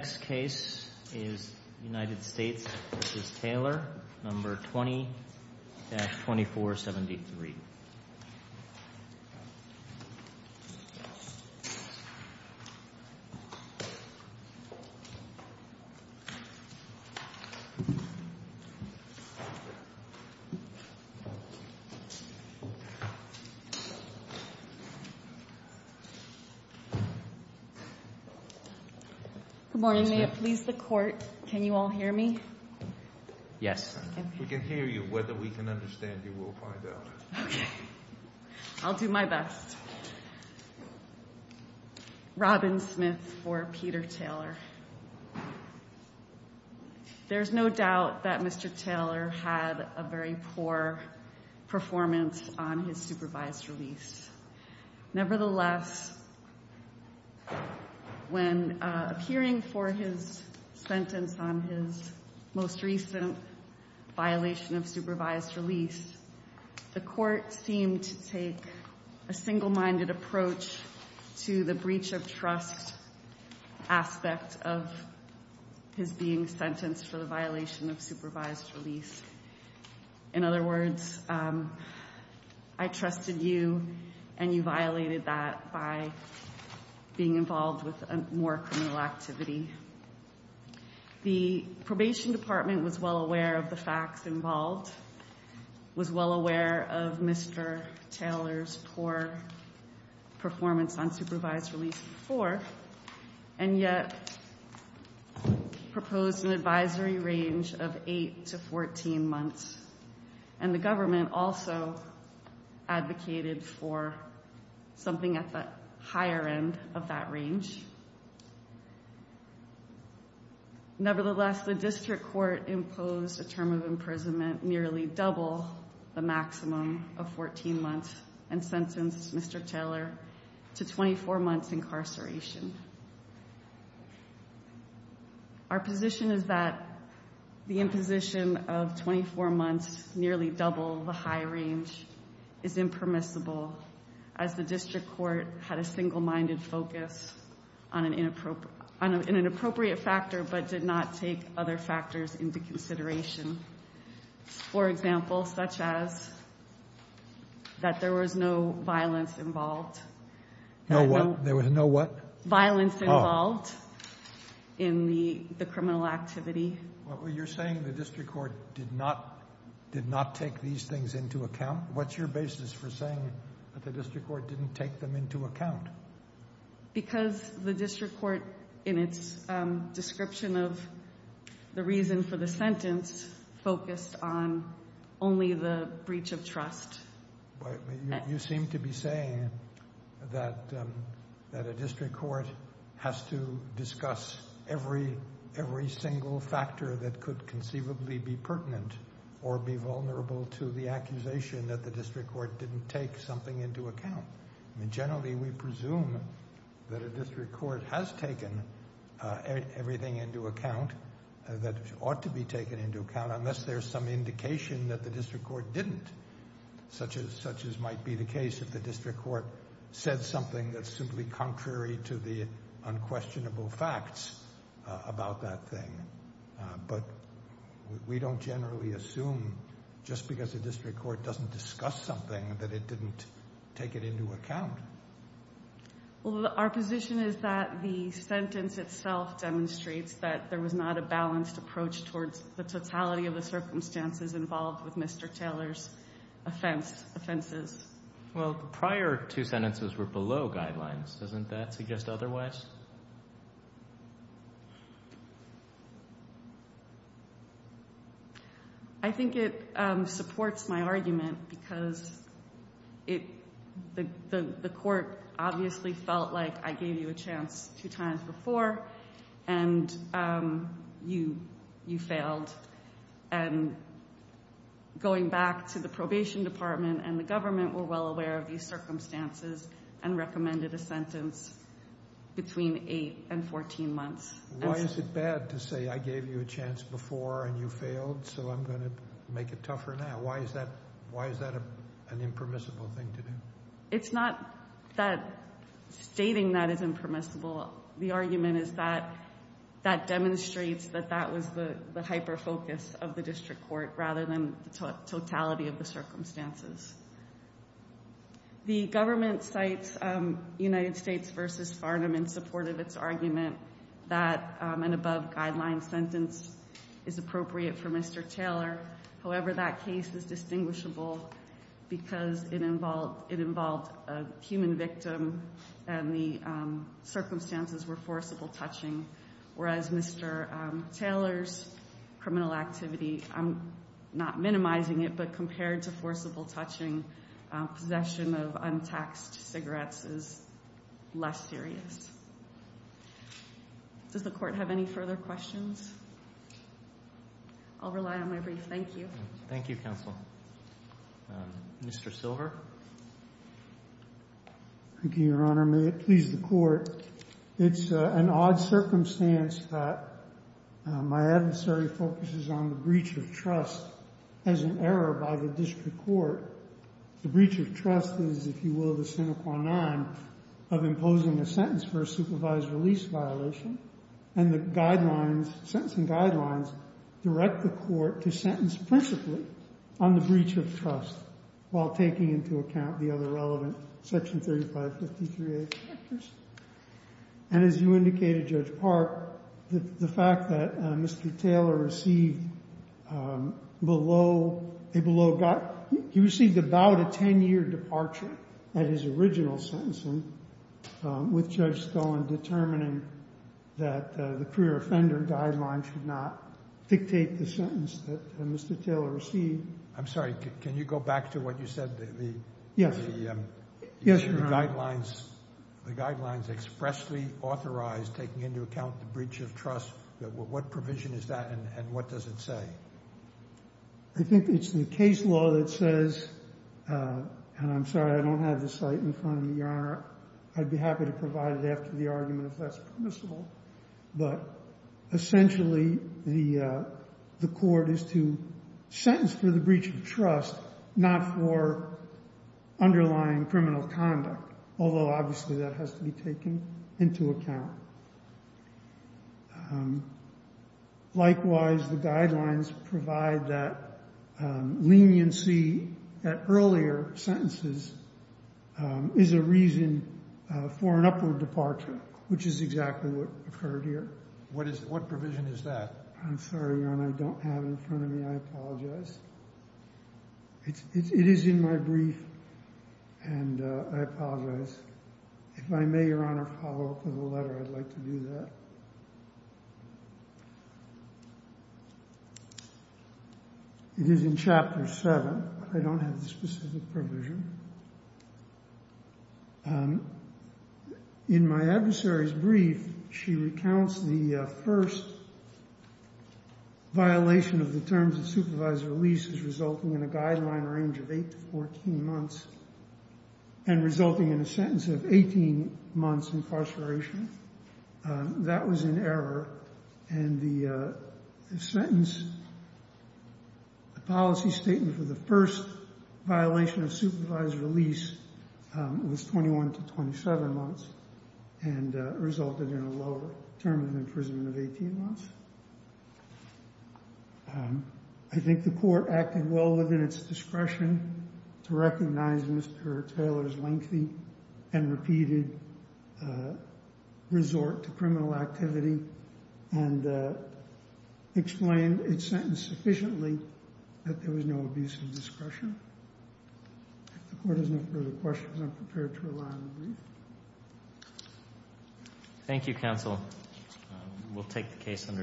No. 20-2473. Thank you. Good morning. May it please the court, can you all hear me? Yes. We can hear you. Whether we can understand you, we'll find out. I'll do my best. Robin Smith for Peter Taylor. There's no doubt that Mr. Taylor had a very poor performance on his supervised release. Nevertheless, when appearing for his sentence on his most recent violation of supervised release, the court seemed to take a single-minded approach to the breach of trust aspect of his being sentenced for the violation of supervised release. In other words, I trusted you and you violated that by being involved with more criminal activity. The probation department was well aware of the facts involved, was well aware of Mr. Taylor's poor performance on supervised release before, and yet proposed an advisory range of eight to 14 months. And the government also advocated for something at the higher end of that range. Nevertheless, the district court imposed a term of imprisonment nearly double the maximum of 14 months and sentenced Mr. Taylor to 24 months incarceration. Our position is that the imposition of 24 months nearly double the high range is impermissible, as the district court had a single-minded focus on an inappropriate factor, but did not take other factors into consideration. For example, such as that there was no violence involved. No what? There was no what? Violence involved in the criminal activity. You're saying the district court did not take these things into account? What's your basis for saying that the district court didn't take them into account? Because the district court, in its description of the reason for the sentence, focused on only the breach of trust. You seem to be saying that a district court has to discuss every single factor that could conceivably be pertinent or be vulnerable to the accusation that the district court didn't take something into account. Generally, we presume that a district court has taken everything into account that ought to be taken into account, unless there's some indication that the district court didn't, such as might be the case if the district court said something that's simply contrary to the unquestionable facts about that thing. But we don't generally assume, just because the district court doesn't discuss something, that it didn't take it into account. Well, our position is that the sentence itself demonstrates that there was not a balanced approach towards the totality of the circumstances involved with Mr. Taylor's offenses. Well, the prior two sentences were below guidelines. Doesn't that suggest otherwise? I think it supports my argument, because the court obviously felt like I gave you a chance two times before, and you failed. And going back to the probation department and the government, we're well aware of these circumstances and recommended a sentence between the two sentences. Between 8 and 14 months. Why is it bad to say, I gave you a chance before, and you failed, so I'm going to make it tougher now? Why is that an impermissible thing to do? It's not that stating that is impermissible. The argument is that that demonstrates that that was the hyper-focus of the district court, rather than the totality of the circumstances. The government cites United States versus Farnham in support of its argument that an above-guideline sentence is appropriate for Mr. Taylor. However, that case is distinguishable, because it involved a human victim, and the circumstances were forcible touching. Whereas Mr. Taylor's criminal activity, I'm not minimizing it, but compared to forcible touching, possession of untaxed cigarettes is less serious. Does the court have any further questions? I'll rely on my brief. Thank you. Thank you, counsel. Mr. Silver? Thank you, Your Honor. May it please the court. It's an odd circumstance that my adversary focuses on the breach of trust as an error by the district court. The breach of trust is, if you will, the sine qua non of imposing a sentence for a supervised release violation. And the guidelines, sentencing guidelines, direct the court to sentence principally on the breach of trust, while taking into account the other relevant Section 3553A characters. And as you indicated, Judge Park, the fact that Mr. Taylor received below a below he received about a 10-year departure at his original sentencing, with Judge Stone determining that the career offender guidelines should not dictate the sentence that Mr. Taylor received. I'm sorry, can you go back to what you said? Yes. Yes, Your Honor. The guidelines expressly authorized taking into account the breach of trust, what provision is that and what does it say? I think it's the case law that says, and I'm sorry I don't have the site in front of me, Your Honor. I'd be happy to provide it after the argument if that's permissible. But essentially, the court is to sentence for the breach of trust, not for underlying criminal conduct. Although, obviously, that has to be taken into account. Likewise, the guidelines provide that leniency at earlier sentences is a reason for an upward departure, which is exactly what occurred here. What provision is that? I'm sorry, Your Honor, I don't have it in front of me. I apologize. It is in my brief, and I apologize. I'd like to do that. It is in Chapter 7. I don't have the specific provision. In my adversary's brief, she recounts the first violation of the terms of supervisory release as resulting in a guideline range of 8 to 14 months and resulting in a sentence of 18 months incarceration. That was in error, and the sentence, the policy statement for the first violation of supervised release was 21 to 27 months and resulted in a lower term of imprisonment of 18 months. I think the court acted well within its discretion to recognize Mr. Taylor's lengthy and repeated resort to criminal activity and explained its sentence sufficiently that there was no abuse of discretion. If the court has no further questions, I'm prepared to rely on the brief. Thank you, counsel. We'll take the case under advisement.